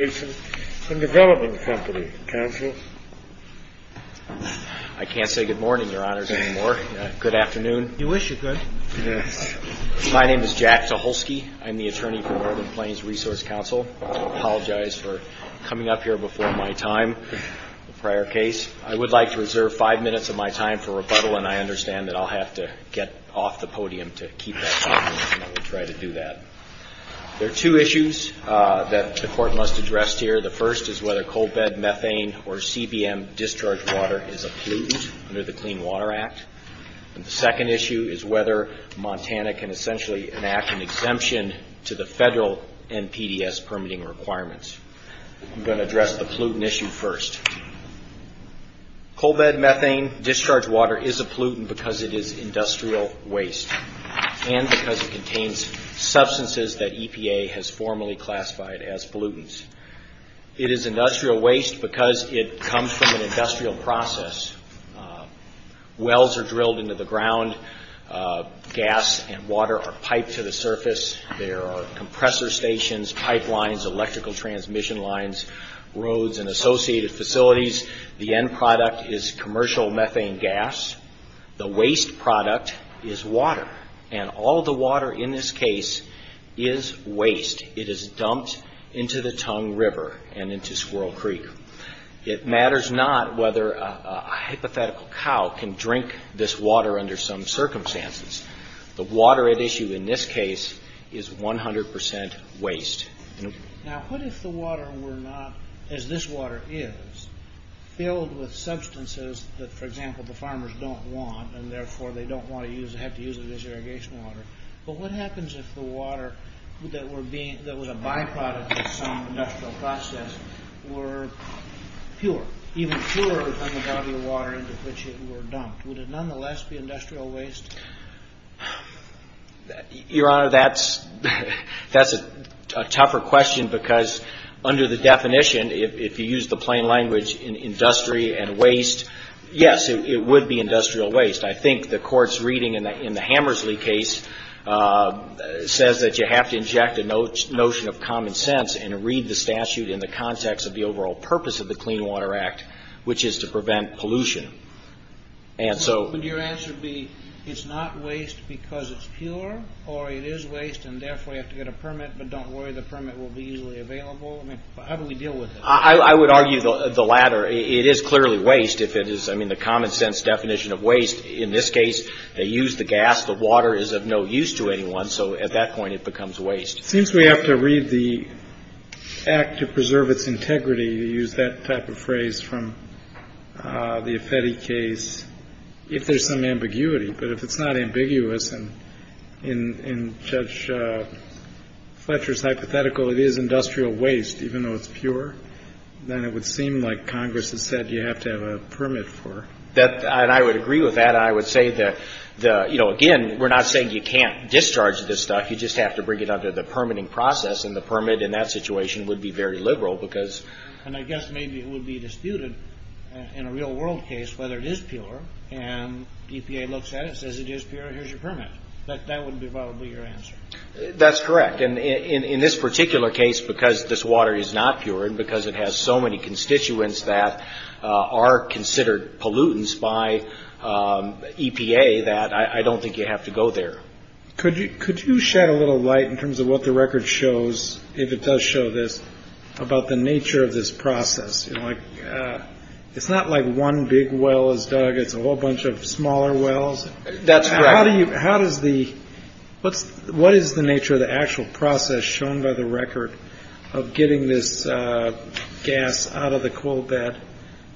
I can't say good morning, your honors, anymore. Good afternoon. You wish you could. Yes. My name is Jack Tucholsky. I'm the attorney for Northern Plains Resource Council. I apologize for coming up here before my time, prior case. I would like to reserve five minutes of my time for rebuttal, and I understand that I'll have to get off the podium to keep that talking. I will try to do that. There are two issues that the court must address here. The first is whether coal bed methane or CBM discharge water is a pollutant under the Clean Water Act. The second issue is whether Montana can essentially enact an exemption to the federal NPDES permitting requirements. I'm going to address the pollutant issue first. Coal bed methane discharge water is a pollutant because it is industrial waste and because it contains substances that EPA has formally classified as pollutants. It is industrial waste because it comes from an industrial process. Wells are drilled into the ground. Gas and water are piped to the surface. There are compressor stations, pipelines, electrical transmission lines, roads, and associated facilities. The end product is commercial methane gas. The waste product is water, and all the water in this case is waste. It is dumped into the Tongue River and into Squirrel Creek. It matters not whether a hypothetical cow can drink this water under some circumstances. The water at issue in this case is 100 percent waste. Now, what if the water were not, as this water is, filled with substances that, for example, the farmers don't want and therefore they don't want to use or have to use it as irrigation water, but what happens if the water that was a byproduct of some industrial process were pure, even purer than the body of water into which it were dumped? Would it nonetheless be industrial waste? Your Honor, that's a tougher question because under the definition, if you use the plain language, industry and waste, yes, it would be industrial waste. I think the Court's reading in the Hammersley case says that you have to inject a notion of common sense and read the statute in the context of the overall purpose of the Clean Water Act, which is to prevent pollution. Would your answer be it's not waste because it's pure or it is waste and therefore you have to get a permit, but don't worry, the permit will be easily available? I mean, how do we deal with it? I would argue the latter. It is clearly waste if it is, I mean, the common sense definition of waste. In this case, they use the gas. The water is of no use to anyone, so at that point it becomes waste. It seems we have to read the act to preserve its integrity to use that type of phrase from the Affetti case if there's some ambiguity, but if it's not ambiguous and Judge Fletcher's hypothetical, it is industrial waste even though it's pure, then it would seem like Congress has said you have to have a permit for it. And I would agree with that. I would say that, you know, again, we're not saying you can't discharge this stuff. You just have to bring it under the permitting process and the permit in that situation would be very liberal because And I guess maybe it would be disputed in a real world case whether it is pure and EPA looks at it, says it is pure, here's your permit. That would be probably your answer. That's correct. And in this particular case, because this water is not pure and because it has so many constituents that are considered pollutants by EPA, that I don't think you have to go there. Could you shed a little light in terms of what the record shows, if it does show this, about the nature of this process? It's not like one big well is dug. It's a whole bunch of smaller wells. That's right. What is the nature of the actual process shown by the record of getting this gas out of the coal bed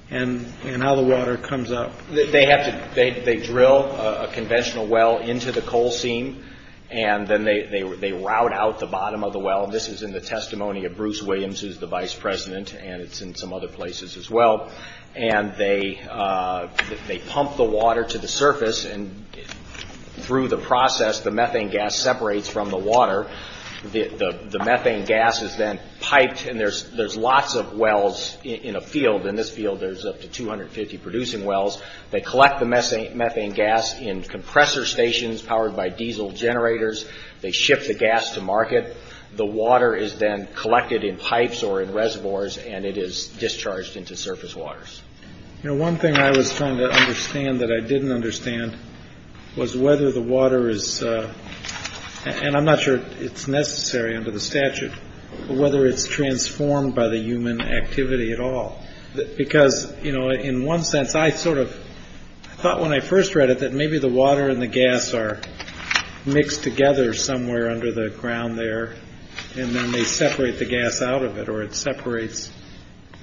and how the water comes up? They drill a conventional well into the coal seam and then they route out the bottom of the well. This is in the testimony of Bruce Williams, who is the vice president, and it's in some other places as well. And they pump the water to the surface and through the process, the methane gas separates from the water. The methane gas is then piped and there's lots of wells in a field. There's up to 250 producing wells. They collect the methane gas in compressor stations powered by diesel generators. They ship the gas to market. The water is then collected in pipes or in reservoirs and it is discharged into surface waters. One thing I was trying to understand that I didn't understand was whether the water is, and I'm not sure it's necessary under the statute, but whether it's transformed by the human activity at all. Because, you know, in one sense, I sort of thought when I first read it that maybe the water and the gas are mixed together somewhere under the ground there. And then they separate the gas out of it or it separates.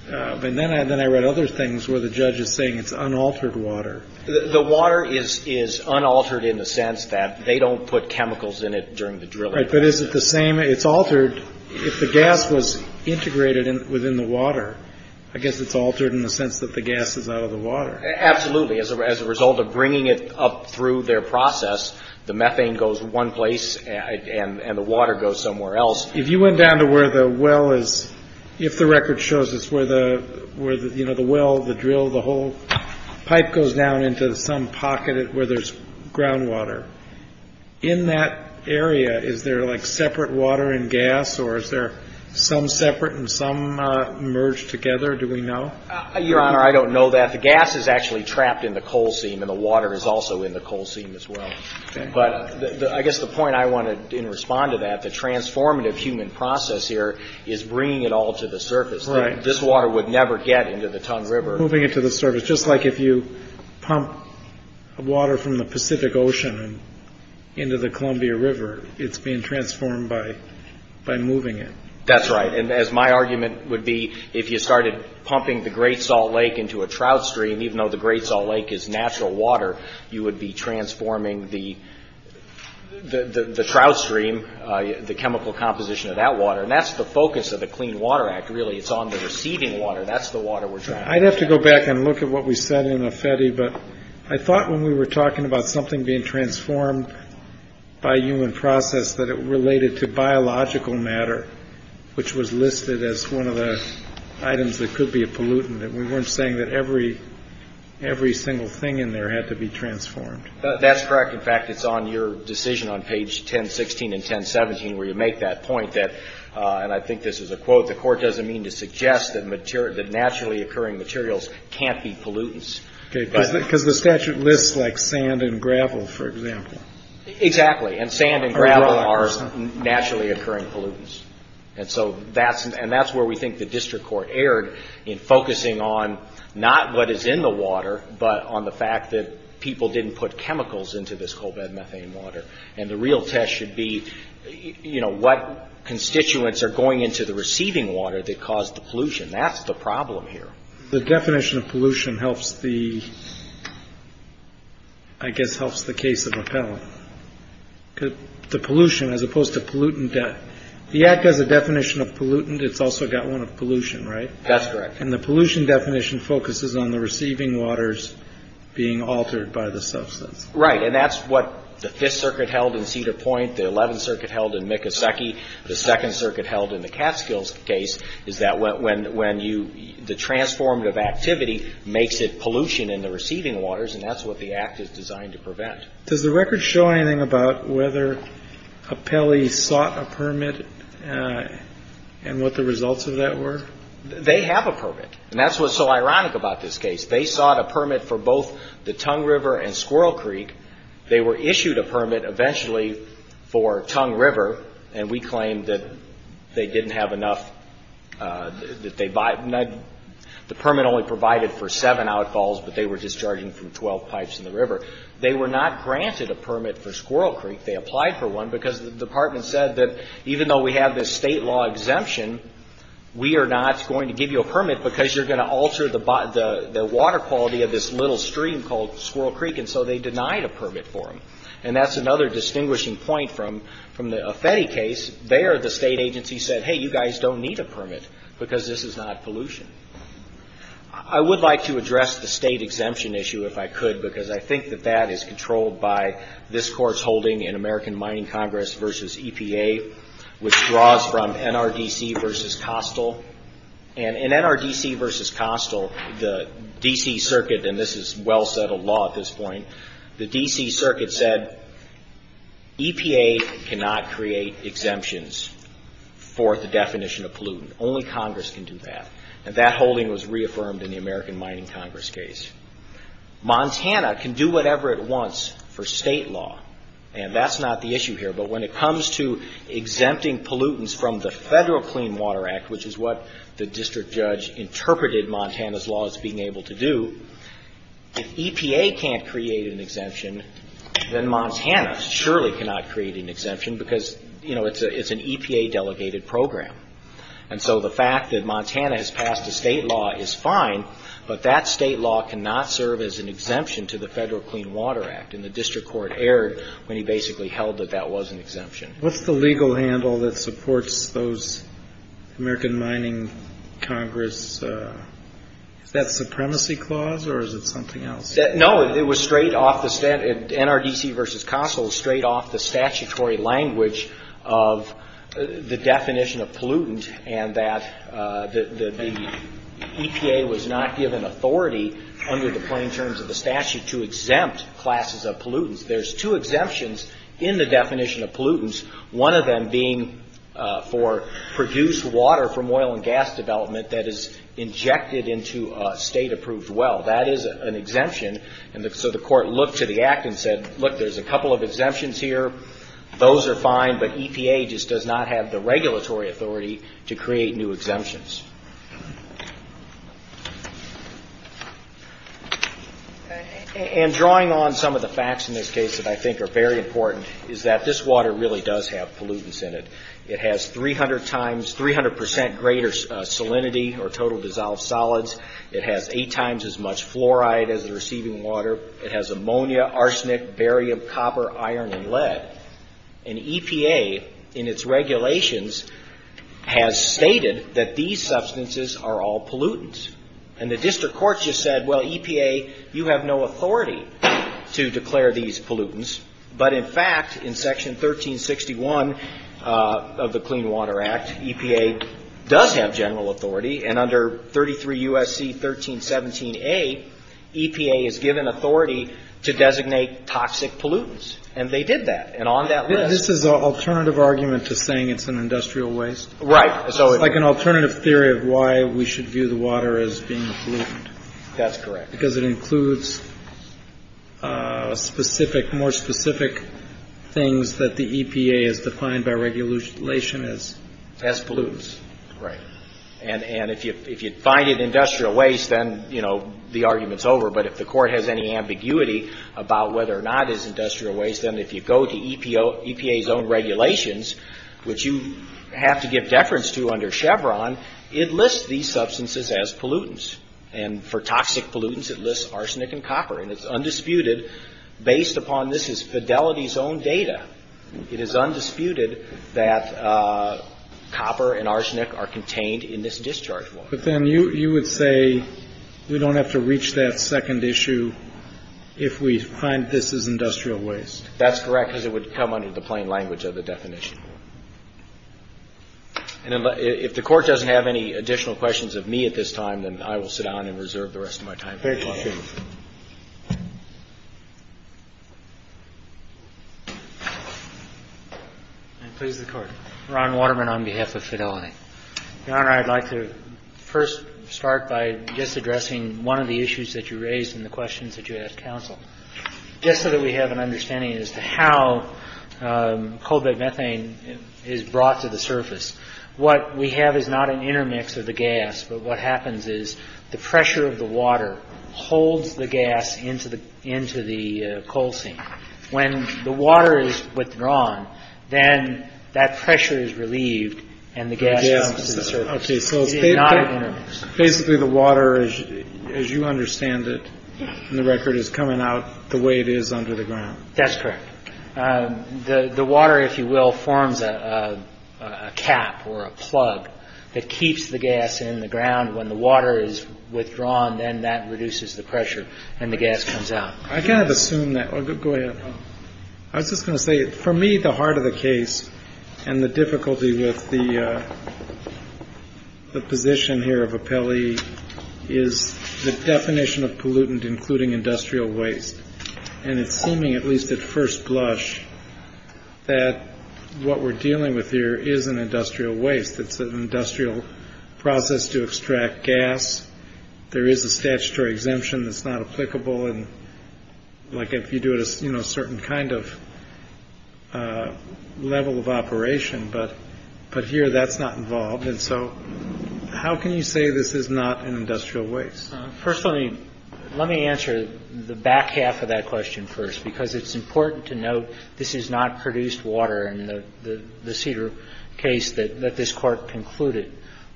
But then I then I read other things where the judge is saying it's unaltered water. The water is is unaltered in the sense that they don't put chemicals in it during the drill. But is it the same? It's altered. If the gas was integrated within the water, I guess it's altered in the sense that the gas is out of the water. Absolutely. As a result of bringing it up through their process, the methane goes one place and the water goes somewhere else. If you went down to where the well is, if the record shows us where the where the well, the drill, the whole pipe goes down into some pocket where there's groundwater in that area. Is there like separate water and gas or is there some separate and some merged together? Do we know? Your Honor, I don't know that the gas is actually trapped in the coal seam and the water is also in the coal seam as well. But I guess the point I wanted to respond to that, the transformative human process here is bringing it all to the surface. Right. This water would never get into the Ton River, moving it to the surface. Just like if you pump water from the Pacific Ocean into the Columbia River, it's being transformed by by moving it. That's right. And as my argument would be, if you started pumping the Great Salt Lake into a trout stream, even though the Great Salt Lake is natural water, you would be transforming the trout stream, the chemical composition of that water. And that's the focus of the Clean Water Act. Really, it's on the receiving water. That's the water. I'd have to go back and look at what we said in the FETI. But I thought when we were talking about something being transformed by human process, that it related to biological matter, which was listed as one of the items that could be a pollutant, that we weren't saying that every every single thing in there had to be transformed. That's correct. In fact, it's on your decision on page 10, 16 and 10, 17, where you make that point that and I think this is a quote, the court doesn't mean to suggest that naturally occurring materials can't be pollutants. Because the statute lists like sand and gravel, for example. Exactly. And sand and gravel are naturally occurring pollutants. And so that's and that's where we think the district court erred in focusing on not what is in the water, but on the fact that people didn't put chemicals into this coal bed methane water. And the real test should be, you know, what constituents are going into the receiving water that caused the pollution. That's the problem here. The definition of pollution helps the. I guess helps the case of appellate the pollution as opposed to pollutant debt. The act has a definition of pollutant. It's also got one of pollution. Right. That's correct. And the pollution definition focuses on the receiving waters being altered by the substance. Right. And that's what the Fifth Circuit held in Cedar Point, the 11th Circuit held in Micoseki, the Second Circuit held in the Catskills case is that when you the transformative activity makes it pollution in the receiving waters. And that's what the act is designed to prevent. Does the record show anything about whether a Pele sought a permit and what the results of that were? They have a permit. And that's what's so ironic about this case. They sought a permit for both the Tongue River and Squirrel Creek. They were issued a permit eventually for Tongue River. And we claim that they didn't have enough. The permit only provided for seven outfalls, but they were discharging from 12 pipes in the river. They were not granted a permit for Squirrel Creek. They applied for one because the department said that even though we have this state law exemption, we are not going to give you a permit because you're going to alter the water quality of this little stream called Squirrel Creek. And so they denied a permit for them. And that's another distinguishing point from the Affeti case. There the state agency said, hey, you guys don't need a permit because this is not pollution. I would like to address the state exemption issue if I could, because I think that that is controlled by this court's holding in American Mining Congress versus EPA, which draws from NRDC versus Costill. And in NRDC versus Costill, the D.C. Circuit, and this is well-settled law at this point, the D.C. Circuit said EPA cannot create exemptions for the definition of pollutant. Only Congress can do that. And that holding was reaffirmed in the American Mining Congress case. Montana can do whatever it wants for state law, and that's not the issue here. But when it comes to exempting pollutants from the Federal Clean Water Act, which is what the district judge interpreted Montana's law as being able to do, if EPA can't create an exemption, then Montana surely cannot create an exemption, because, you know, it's an EPA-delegated program. And so the fact that Montana has passed a state law is fine, but that state law cannot serve as an exemption to the Federal Clean Water Act. And the district court erred when he basically held that that was an exemption. What's the legal handle that supports those American Mining Congress – is that supremacy clause or is it something else? No, it was straight off the – NRDC versus Costill was straight off the statutory language of the definition of pollutant and that the EPA was not given authority under the plain terms of the statute to exempt classes of pollutants. There's two exemptions in the definition of pollutants, one of them being for produced water from oil and gas development that is injected into a state-approved well. That is an exemption, and so the court looked to the act and said, look, there's a couple of exemptions here, those are fine, but EPA just does not have the regulatory authority to create new exemptions. And drawing on some of the facts in this case that I think are very important is that this water really does have pollutants in it. It has 300 times – 300 percent greater salinity or total dissolved solids. It has eight times as much fluoride as the receiving water. It has ammonia, arsenic, barium, copper, iron, and lead. And EPA, in its regulations, has stated that these substances are all pollutants. And the district court just said, well, EPA, you have no authority to declare these pollutants, but in fact, in Section 1361 of the Clean Water Act, EPA does have general authority, and under 33 U.S.C. 1317a, EPA is given authority to designate toxic pollutants, and they did that. And on that list – This is an alternative argument to saying it's an industrial waste? Right. It's like an alternative theory of why we should view the water as being a pollutant. That's correct. Because it includes specific, more specific things that the EPA has defined by regulation as – As pollutants. Right. And if you find it industrial waste, then, you know, the argument's over. But if the Court has any ambiguity about whether or not it's industrial waste, then if you go to EPA's own regulations, which you have to give deference to under Chevron, it lists these substances as pollutants. And for toxic pollutants, it lists arsenic and copper. And it's undisputed, based upon – this is Fidelity's own data. It is undisputed that copper and arsenic are contained in this discharge water. But then you would say we don't have to reach that second issue if we find this is industrial waste. That's correct, because it would come under the plain language of the definition. And if the Court doesn't have any additional questions of me at this time, then I will sit down and reserve the rest of my time. Thank you, Chief. And please, the Court. Ron Waterman on behalf of Fidelity. Your Honor, I'd like to first start by just addressing one of the issues that you raised in the questions that you asked counsel. Just so that we have an understanding as to how cobalt methane is brought to the surface, what we have is not an intermix of the gas, but what happens is the pressure of the water holds the gas into the coal seam. When the water is withdrawn, then that pressure is relieved and the gas comes to the surface. It is not an intermix. Basically, the water, as you understand it in the record, is coming out the way it is under the ground. That's correct. The water, if you will, forms a cap or a plug that keeps the gas in the ground. When the water is withdrawn, then that reduces the pressure and the gas comes out. I kind of assume that. Go ahead. I was just going to say, for me, the heart of the case and the difficulty with the position here of a Pele is the definition of pollutant, including industrial waste. And it's seeming, at least at first blush, that what we're dealing with here is an industrial waste. It's an industrial process to extract gas. There is a statutory exemption that's not applicable. And like if you do it, you know, a certain kind of level of operation. But but here that's not involved. And so how can you say this is not an industrial waste? Personally, let me answer the back half of that question first, because it's important to note this is not produced water in the Cedar case that this court concluded.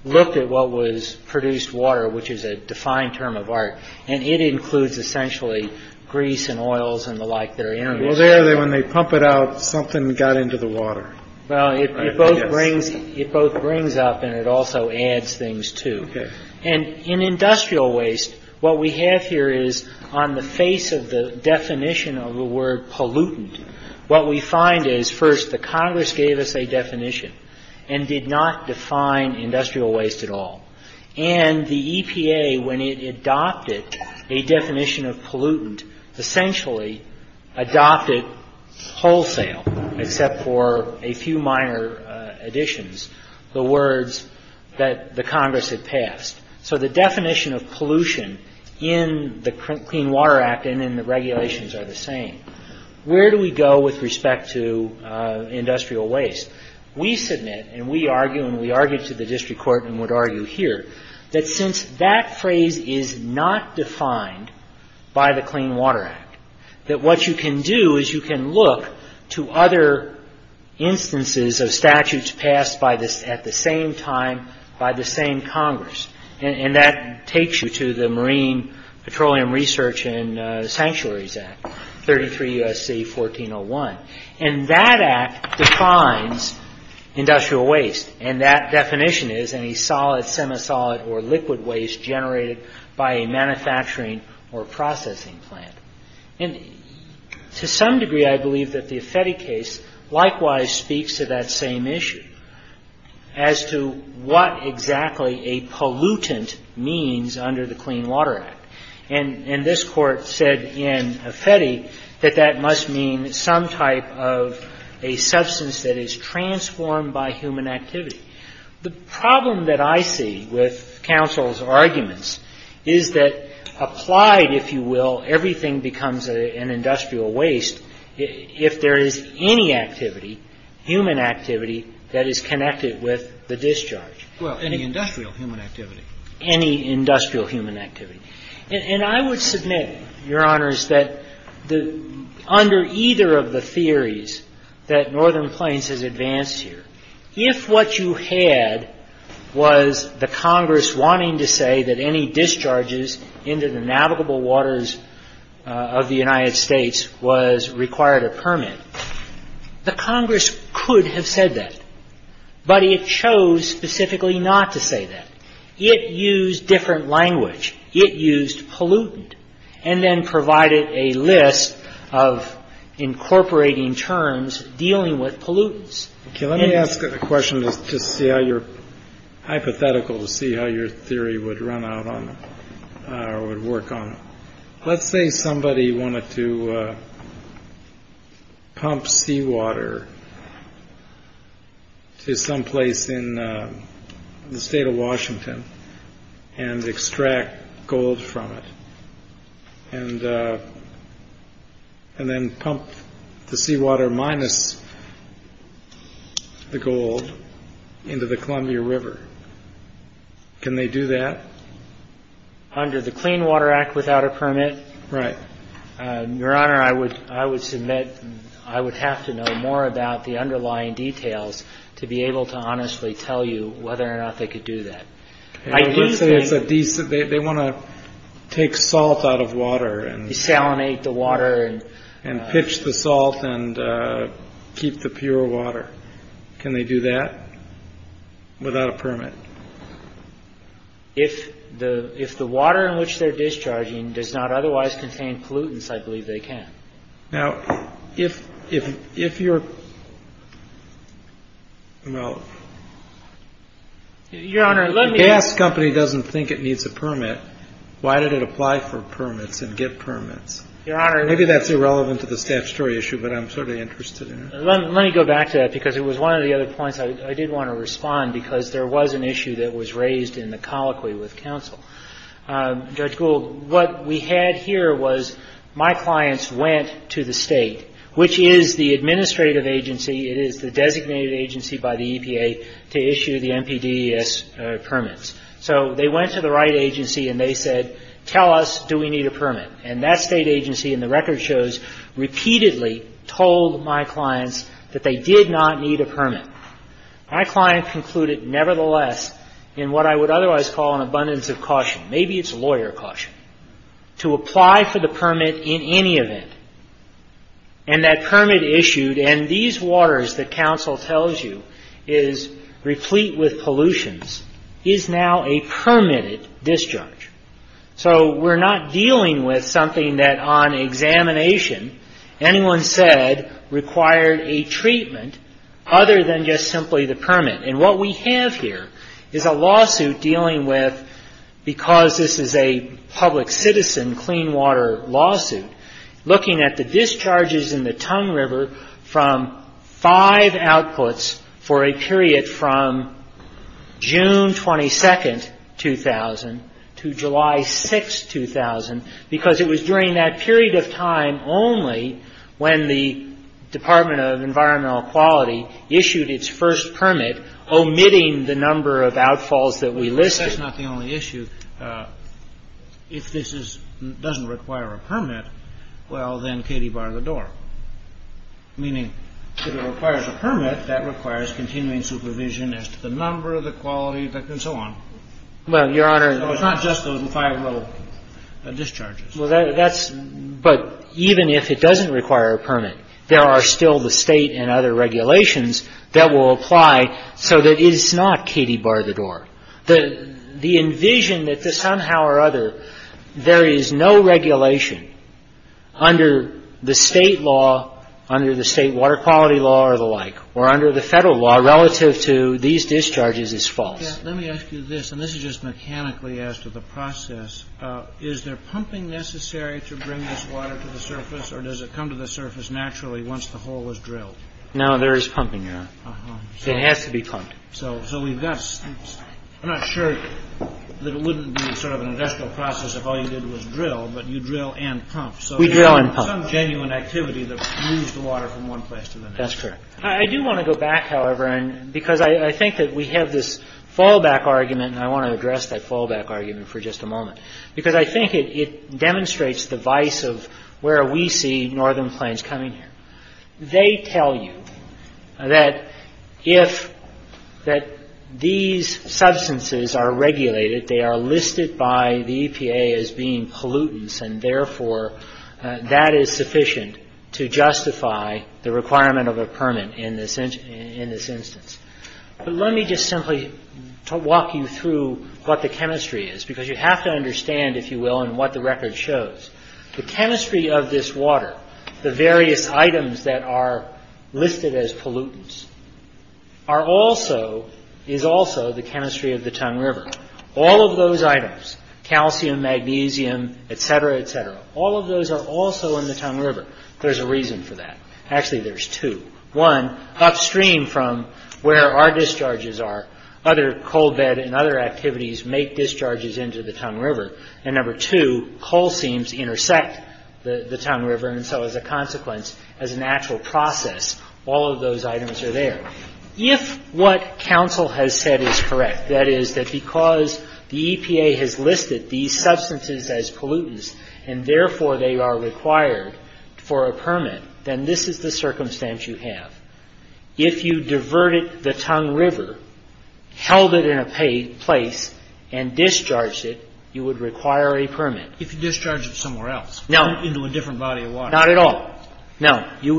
Look at what was produced water, which is a defined term of art. And it includes essentially grease and oils and the like. Well, there when they pump it out, something got into the water. Well, it both brings it both brings up and it also adds things to it. And in industrial waste, what we have here is on the face of the definition of the word pollutant. What we find is first the Congress gave us a definition and did not define industrial waste at all. And the EPA, when it adopted a definition of pollutant, essentially adopted wholesale, except for a few minor additions, the words that the Congress had passed. So the definition of pollution in the Clean Water Act and in the regulations are the same. Where do we go with respect to industrial waste? We submit and we argue and we argued to the district court and would argue here, that since that phrase is not defined by the Clean Water Act, that what you can do is you can look to other instances of statutes passed by this at the same time by the same Congress. And that takes you to the Marine Petroleum Research and Sanctuaries Act, 33 U.S.C. 1401. And that act defines industrial waste and that definition is any solid, semi-solid or liquid waste generated by a manufacturing or processing plant. And to some degree, I believe that the Affetti case likewise speaks to that same issue as to what exactly a pollutant means under the Clean Water Act. And this Court said in Affetti that that must mean some type of a substance that is transformed by human activity. The problem that I see with counsel's arguments is that applied, if you will, everything becomes an industrial waste if there is any activity, human activity, that is connected with the discharge. Well, any industrial human activity. Any industrial human activity. And I would submit, Your Honors, that under either of the theories that Northern Plains has advanced here, if what you had was the Congress wanting to say that any discharges into the navigable waters of the United States was required a permit, the Congress could have said that. But it chose specifically not to say that. It used different language. It used pollutant and then provided a list of incorporating terms dealing with pollutants. OK, let me ask a question to see how you're hypothetical, to see how your theory would run out on would work on. Let's say somebody wanted to pump seawater to someplace in the state of Washington and extract gold from it. And and then pump the seawater minus the gold into the Columbia River. Can they do that under the Clean Water Act without a permit? Right. Your Honor, I would I would submit I would have to know more about the underlying details to be able to honestly tell you whether or not they could do that. I would say it's a decent they want to take salt out of water and salinate the water and and pitch the salt and keep the pure water. Can they do that without a permit? If the if the water in which they're discharging does not otherwise contain pollutants, I believe they can. Now, if if if you're well, your Honor, let me ask company doesn't think it needs a permit. Why did it apply for permits and get permits? Your Honor, maybe that's irrelevant to the statutory issue, but I'm sort of interested in it. Let me go back to that because it was one of the other points I did want to respond because there was an issue that was raised in the colloquy with counsel. Judge Gould, what we had here was my clients went to the state, which is the administrative agency. It is the designated agency by the EPA to issue the NPDES permits. So they went to the right agency and they said, tell us, do we need a permit? And that state agency in the record shows repeatedly told my clients that they did not need a permit. My client concluded, nevertheless, in what I would otherwise call an abundance of caution, maybe it's a lawyer caution, to apply for the permit in any event. And that permit issued and these waters that counsel tells you is replete with pollutions is now a permitted discharge. So we're not dealing with something that on examination anyone said required a treatment other than just simply the permit. And what we have here is a lawsuit dealing with, because this is a public citizen clean water lawsuit, looking at the discharges in the Tongue River from five outputs for a period from June 22nd, 2000, to July 6th, 2000, because it was during that period of time only when the Department of Environmental Quality issued its first permit, omitting the number of outfalls that we listed. And that's not the only issue. If this doesn't require a permit, well, then Katie bar the door. Meaning if it requires a permit, that requires continuing supervision as to the number, the quality, and so on. Well, Your Honor. So it's not just those five little discharges. Well, that's – but even if it doesn't require a permit, there are still the State and other regulations that will apply so that it's not Katie bar the door. The envision that somehow or other there is no regulation under the state law, under the state water quality law or the like, or under the federal law relative to these discharges is false. Let me ask you this, and this is just mechanically as to the process. Is there pumping necessary to bring this water to the surface, or does it come to the surface naturally once the hole is drilled? No, there is pumping, Your Honor. It has to be pumped. So we've got – I'm not sure that it wouldn't be sort of an industrial process if all you did was drill, but you drill and pump. We drill and pump. Some genuine activity that moves the water from one place to the next. That's correct. I do want to go back, however, because I think that we have this fallback argument, and I want to address that fallback argument for just a moment, because I think it demonstrates the vice of where we see northern plains coming here. They tell you that if – that these substances are regulated, they are listed by the EPA as being pollutants, and therefore that is sufficient to justify the requirement of a permit in this instance. But let me just simply walk you through what the chemistry is, because you have to understand, if you will, and what the record shows. The chemistry of this water, the various items that are listed as pollutants, is also the chemistry of the Tongue River. All of those items, calcium, magnesium, et cetera, et cetera, all of those are also in the Tongue River. There's a reason for that. Actually, there's two. One, upstream from where our discharges are, other coal bed and other activities make discharges into the Tongue River, and number two, coal seams intersect the Tongue River, and so as a consequence, as a natural process, all of those items are there. If what counsel has said is correct, that is, that because the EPA has listed these substances as pollutants, and therefore they are required for a permit, then this is the circumstance you have. If you diverted the Tongue River, held it in a place, and discharged it, you would require a permit. If you discharged it somewhere else. No. Into a different body of water. Not at all. No. You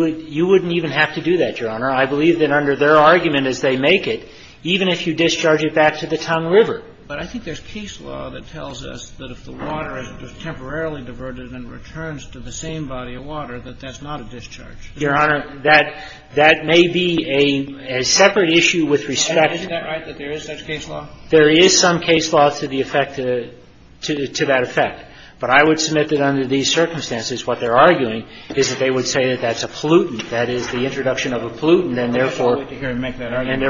wouldn't even have to do that, Your Honor. I believe that under their argument as they make it, even if you discharge it back to the Tongue River. But I think there's case law that tells us that if the water is temporarily diverted and returns to the same body of water, that that's not a discharge. Your Honor, that may be a separate issue with respect. Isn't that right, that there is such case law? There is some case law to the effect, to that effect. But I would submit that under these circumstances, what they're arguing is that they would say that that's a pollutant, that is the introduction of a pollutant, and therefore. I would like to hear him make that argument.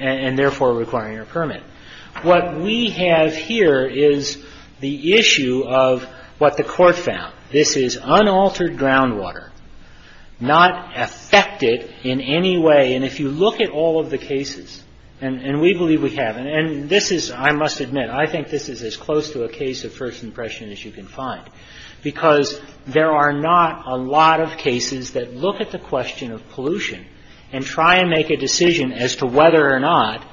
And therefore requiring a permit. What we have here is the issue of what the Court found. This is unaltered groundwater. Not affected in any way. And if you look at all of the cases, and we believe we have. And this is, I must admit, I think this is as close to a case of first impression as you can find. Because there are not a lot of cases that look at the question of pollution and try and make a decision as to whether or not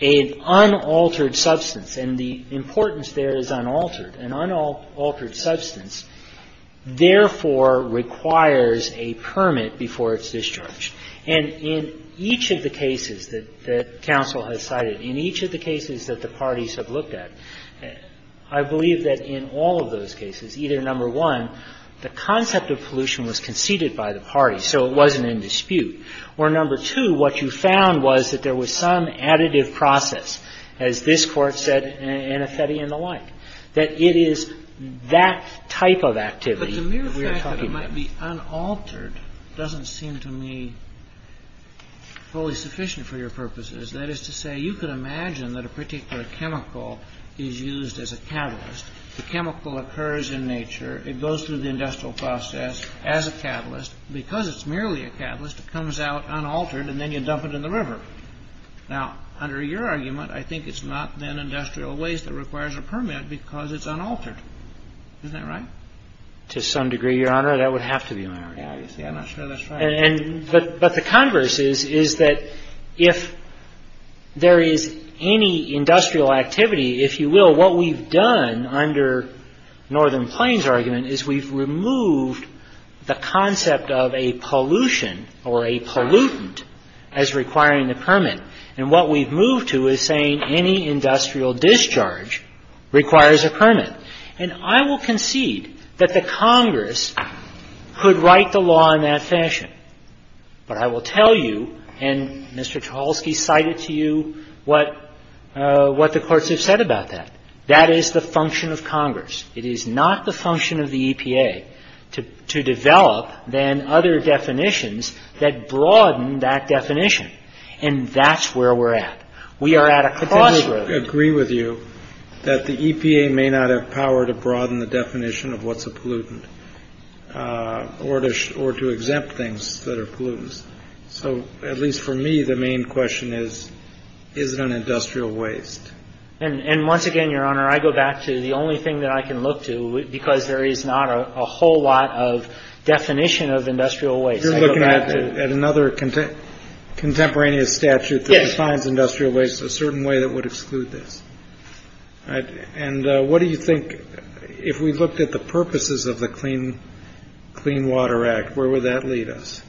an unaltered substance, and the importance there is unaltered. An unaltered substance, therefore, requires a permit before it's discharged. And in each of the cases that counsel has cited, in each of the cases that the parties have looked at, I believe that in all of those cases, either number one, the concept of pollution was conceded by the parties, so it wasn't in dispute. Or number two, what you found was that there was some additive process. As this Court said in Anafetti and the like. That it is that type of activity that we are talking about. But the mere fact that it might be unaltered doesn't seem to me fully sufficient for your purposes. That is to say, you could imagine that a particular chemical is used as a catalyst. The chemical occurs in nature. It goes through the industrial process as a catalyst. Because it's merely a catalyst, it comes out unaltered, and then you dump it in the river. Now, under your argument, I think it's not then industrial waste that requires a permit because it's unaltered. Isn't that right? To some degree, Your Honor, that would have to be unaltered. I'm not sure that's right. But the converse is that if there is any industrial activity, if you will, what we've done under Northern Plains' argument is we've removed the concept of a pollution or a pollutant as requiring a permit. And what we've moved to is saying any industrial discharge requires a permit. And I will concede that the Congress could write the law in that fashion. But I will tell you, and Mr. Tchaikovsky cited to you what the courts have said about that, that is the function of Congress. It is not the function of the EPA to develop then other definitions that broaden that definition. And that's where we're at. We are at a crossroad. But then I would agree with you that the EPA may not have power to broaden the definition of what's a pollutant or to exempt things that are pollutants. So at least for me, the main question is, is it an industrial waste? And once again, Your Honor, I go back to the only thing that I can look to, because there is not a whole lot of definition of industrial waste. You're looking at another contemporaneous statute that defines industrial waste a certain way that would exclude this. And what do you think, if we looked at the purposes of the Clean Water Act, where would that lead us?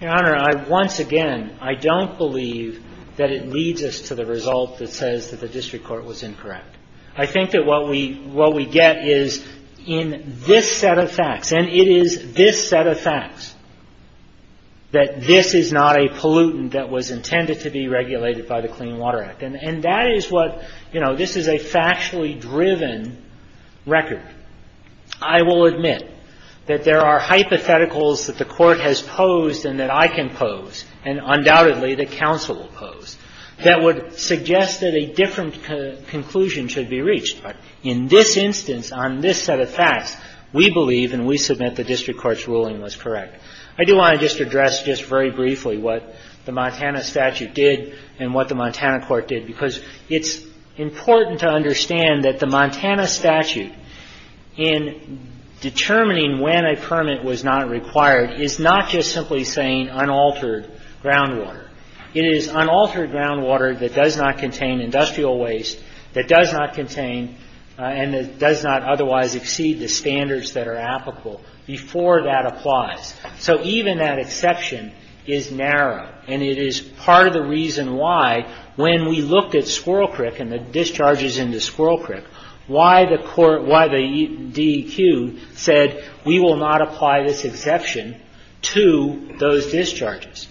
Your Honor, I once again, I don't believe that it leads us to the result that says that the district court was incorrect. I think that what we get is in this set of facts, and it is this set of facts that this is not a pollutant that was intended to be regulated by the Clean Water Act. And that is what, you know, this is a factually driven record. I will admit that there are hypotheticals that the Court has posed and that I can pose, and undoubtedly that counsel will pose, that would suggest that a different conclusion should be reached. In this instance, on this set of facts, we believe and we submit the district court's ruling was correct. I do want to just address just very briefly what the Montana statute did and what the Montana court did, because it's important to understand that the Montana statute, in determining when a permit was not required, is not just simply saying unaltered groundwater. It is unaltered groundwater that does not contain industrial waste, that does not contain and does not otherwise exceed the standards that are applicable before that applies. So even that exception is narrow, and it is part of the reason why, when we looked at Squirrel Creek and the discharges into Squirrel Creek, why the DEQ said we will not apply this exception to those discharges.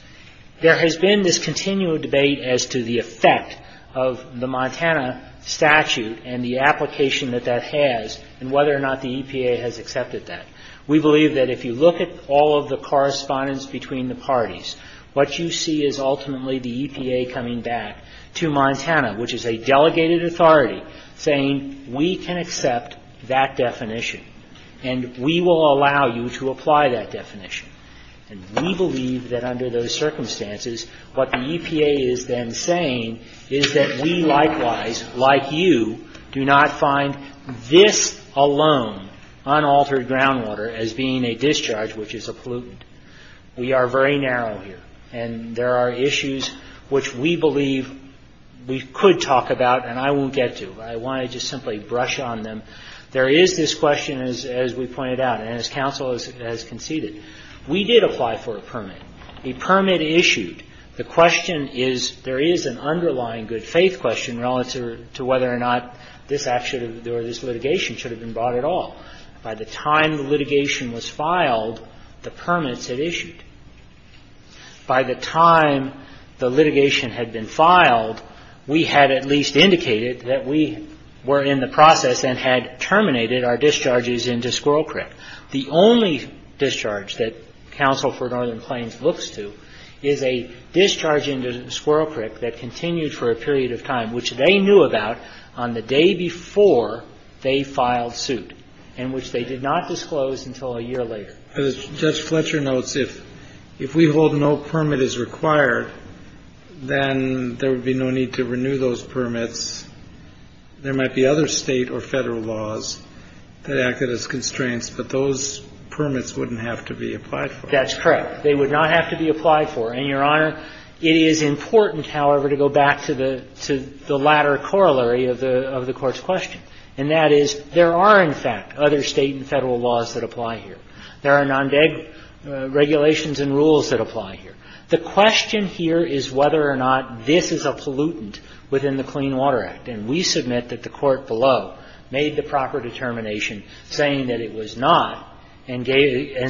There has been this continued debate as to the effect of the Montana statute and the application that that has and whether or not the EPA has accepted that. We believe that if you look at all of the correspondence between the parties, what you see is ultimately the EPA coming back to Montana, which is a delegated authority, saying we can accept that definition and we will allow you to apply that definition. And we believe that under those circumstances, what the EPA is then saying is that we likewise, like you, do not find this alone unaltered groundwater as being a discharge, which is a pollutant. We are very narrow here, and there are issues which we believe we could talk about and I won't get to. I want to just simply brush on them. There is this question, as we pointed out, and as counsel has conceded, we did apply for a permit. A permit issued. The question is, there is an underlying good faith question relative to whether or not this action or this litigation should have been brought at all. By the time the litigation was filed, the permits had issued. By the time the litigation had been filed, we had at least indicated that we were in the process and had terminated our discharges into Squirrel Creek. The only discharge that counsel for Northern Plains looks to is a discharge into Squirrel Creek that continued for a period of time, which they knew about on the day before they filed suit and which they did not disclose until a year later. Kennedy. Judge Fletcher notes if we hold no permit is required, then there would be no need to renew those permits. There might be other State or Federal laws that acted as constraints, but those permits wouldn't have to be applied for. That's correct. They would not have to be applied for. And, Your Honor, it is important, however, to go back to the latter corollary of the Court's question, and that is there are, in fact, other State and Federal laws that apply here. There are non-DEG regulations and rules that apply here. The question here is whether or not this is a pollutant within the Clean Water Act. And we submit that the Court below made the proper determination saying that it was not and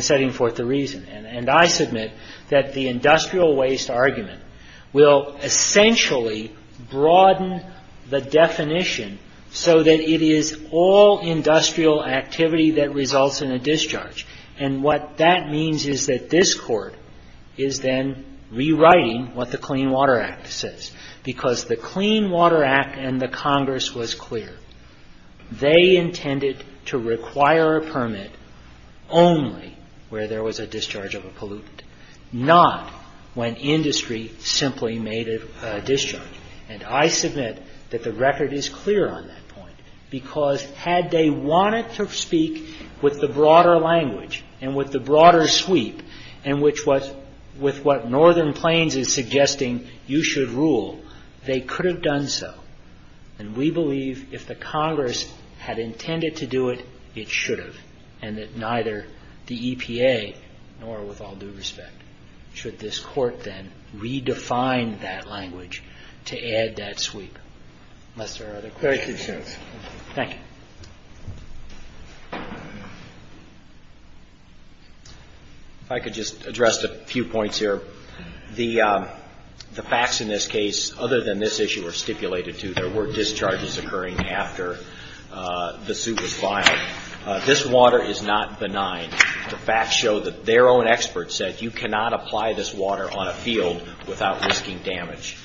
setting forth the reason. And I submit that the industrial waste argument will essentially broaden the definition so that it is all industrial activity that results in a discharge. And what that means is that this Court is then rewriting what the Clean Water Act says, because the Clean Water Act and the Congress was clear. They intended to require a permit only where there was a discharge of a pollutant, not when industry simply made a discharge. And I submit that the record is clear on that point, because had they wanted to speak with the broader language and with the broader sweep and with what Northern Plains is suggesting you should rule, they could have done so. And we believe if the Congress had intended to do it, it should have, and that neither the EPA nor, with all due respect, should this Court then redefine that language to add that sweep. Unless there are other questions. Thank you. If I could just address a few points here. The facts in this case, other than this issue were stipulated to, there were discharges occurring after the suit was filed. This water is not benign. The facts show that their own experts said you cannot apply this water on a field without risking damage.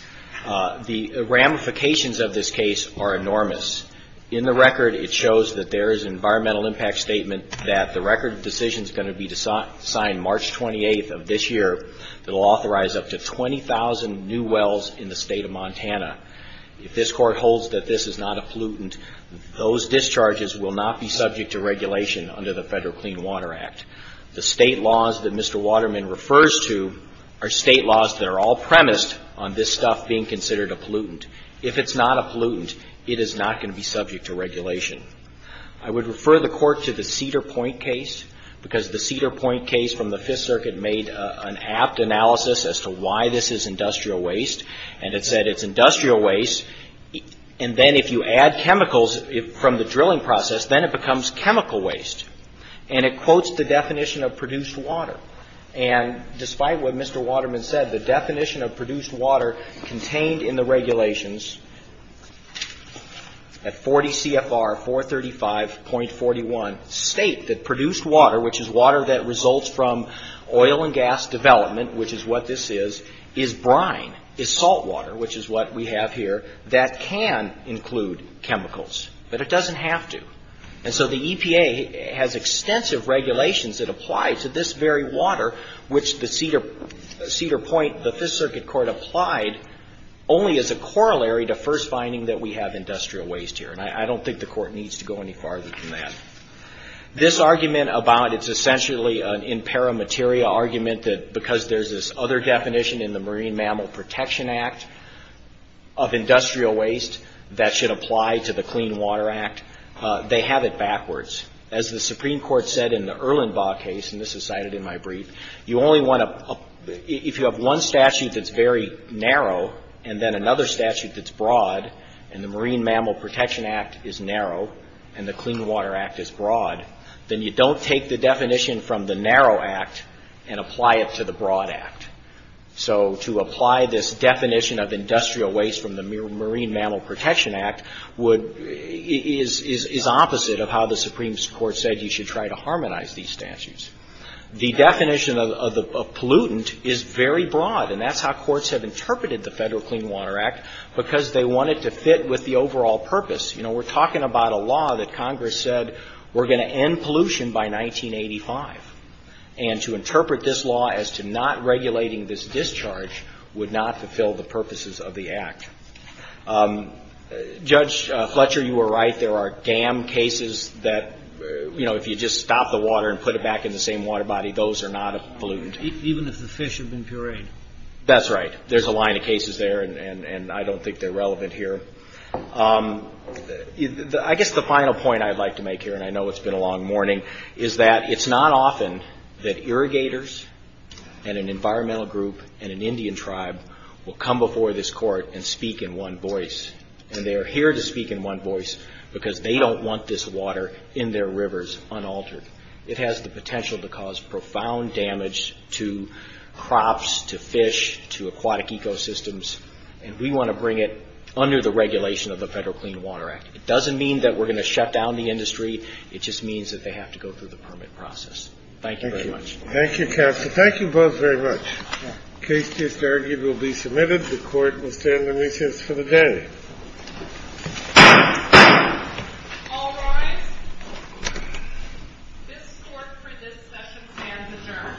The ramifications of this case are enormous. In the record, it shows that there is an environmental impact statement that the record decision is going to be signed March 28th of this year that will authorize up to 20,000 new wells in the state of Montana. If this Court holds that this is not a pollutant, those discharges will not be subject to regulation under the Federal Clean Water Act. The state laws that Mr. Waterman refers to are state laws that are all premised on this stuff being considered a pollutant. If it's not a pollutant, it is not going to be subject to regulation. I would refer the Court to the Cedar Point case, because the Cedar Point case from the Fifth Circuit made an apt analysis as to why this is industrial waste, and it said it's industrial waste, and then if you add chemicals from the drilling process, then it becomes chemical waste. And it quotes the definition of produced water. And despite what Mr. Waterman said, the definition of produced water contained in the regulations at 40 CFR 435.41 state that produced water, which is water that results from oil and gas development, which is what this is, is brine, is salt water, which is what we have here, that can include chemicals, but it doesn't have to. And so the EPA has extensive regulations that apply to this very water, which the Cedar Point, the Fifth Circuit Court applied only as a corollary to first finding that we have industrial waste here, and I don't think the Court needs to go any farther than that. This argument about it's essentially an in para materia argument that because there's this other definition in the Marine Mammal Protection Act of industrial waste that should apply to the Clean Water Act, they have it backwards. As the Supreme Court said in the Erlenbaugh case, and this is cited in my brief, you only want to, if you have one statute that's very narrow and then another statute that's broad, and the Marine Mammal Protection Act is narrow and the Clean Water Act is broad, then you don't take the definition from the narrow act and apply it to the broad act. So to apply this definition of industrial waste from the Marine Mammal Protection Act is opposite of how the Supreme Court said you should try to harmonize these statutes. The definition of pollutant is very broad, and that's how courts have interpreted the Federal Clean Water Act because they want it to fit with the overall purpose. We're talking about a law that Congress said we're going to end pollution by 1985, and to interpret this law as to not regulating this discharge would not fulfill the purposes of the act. Judge Fletcher, you were right. There are dam cases that, you know, if you just stop the water and put it back in the same water body, those are not pollutants. Even if the fish have been pureed. That's right. There's a line of cases there, and I don't think they're relevant here. I guess the final point I'd like to make here, and I know it's been a long morning, is that it's not often that irrigators and an environmental group and an Indian tribe will come before this Court and speak in one voice, and they are here to speak in one voice because they don't want this water in their rivers unaltered. It has the potential to cause profound damage to crops, to fish, to aquatic ecosystems, and we want to bring it under the regulation of the Federal Clean Water Act. It doesn't mean that we're going to shut down the industry. It just means that they have to go through the permit process. Thank you very much. Thank you, counsel. Thank you both very much. The case just argued will be submitted. The Court will stand on recess for the day. All rise. This Court for this session stands adjourned. Thank you.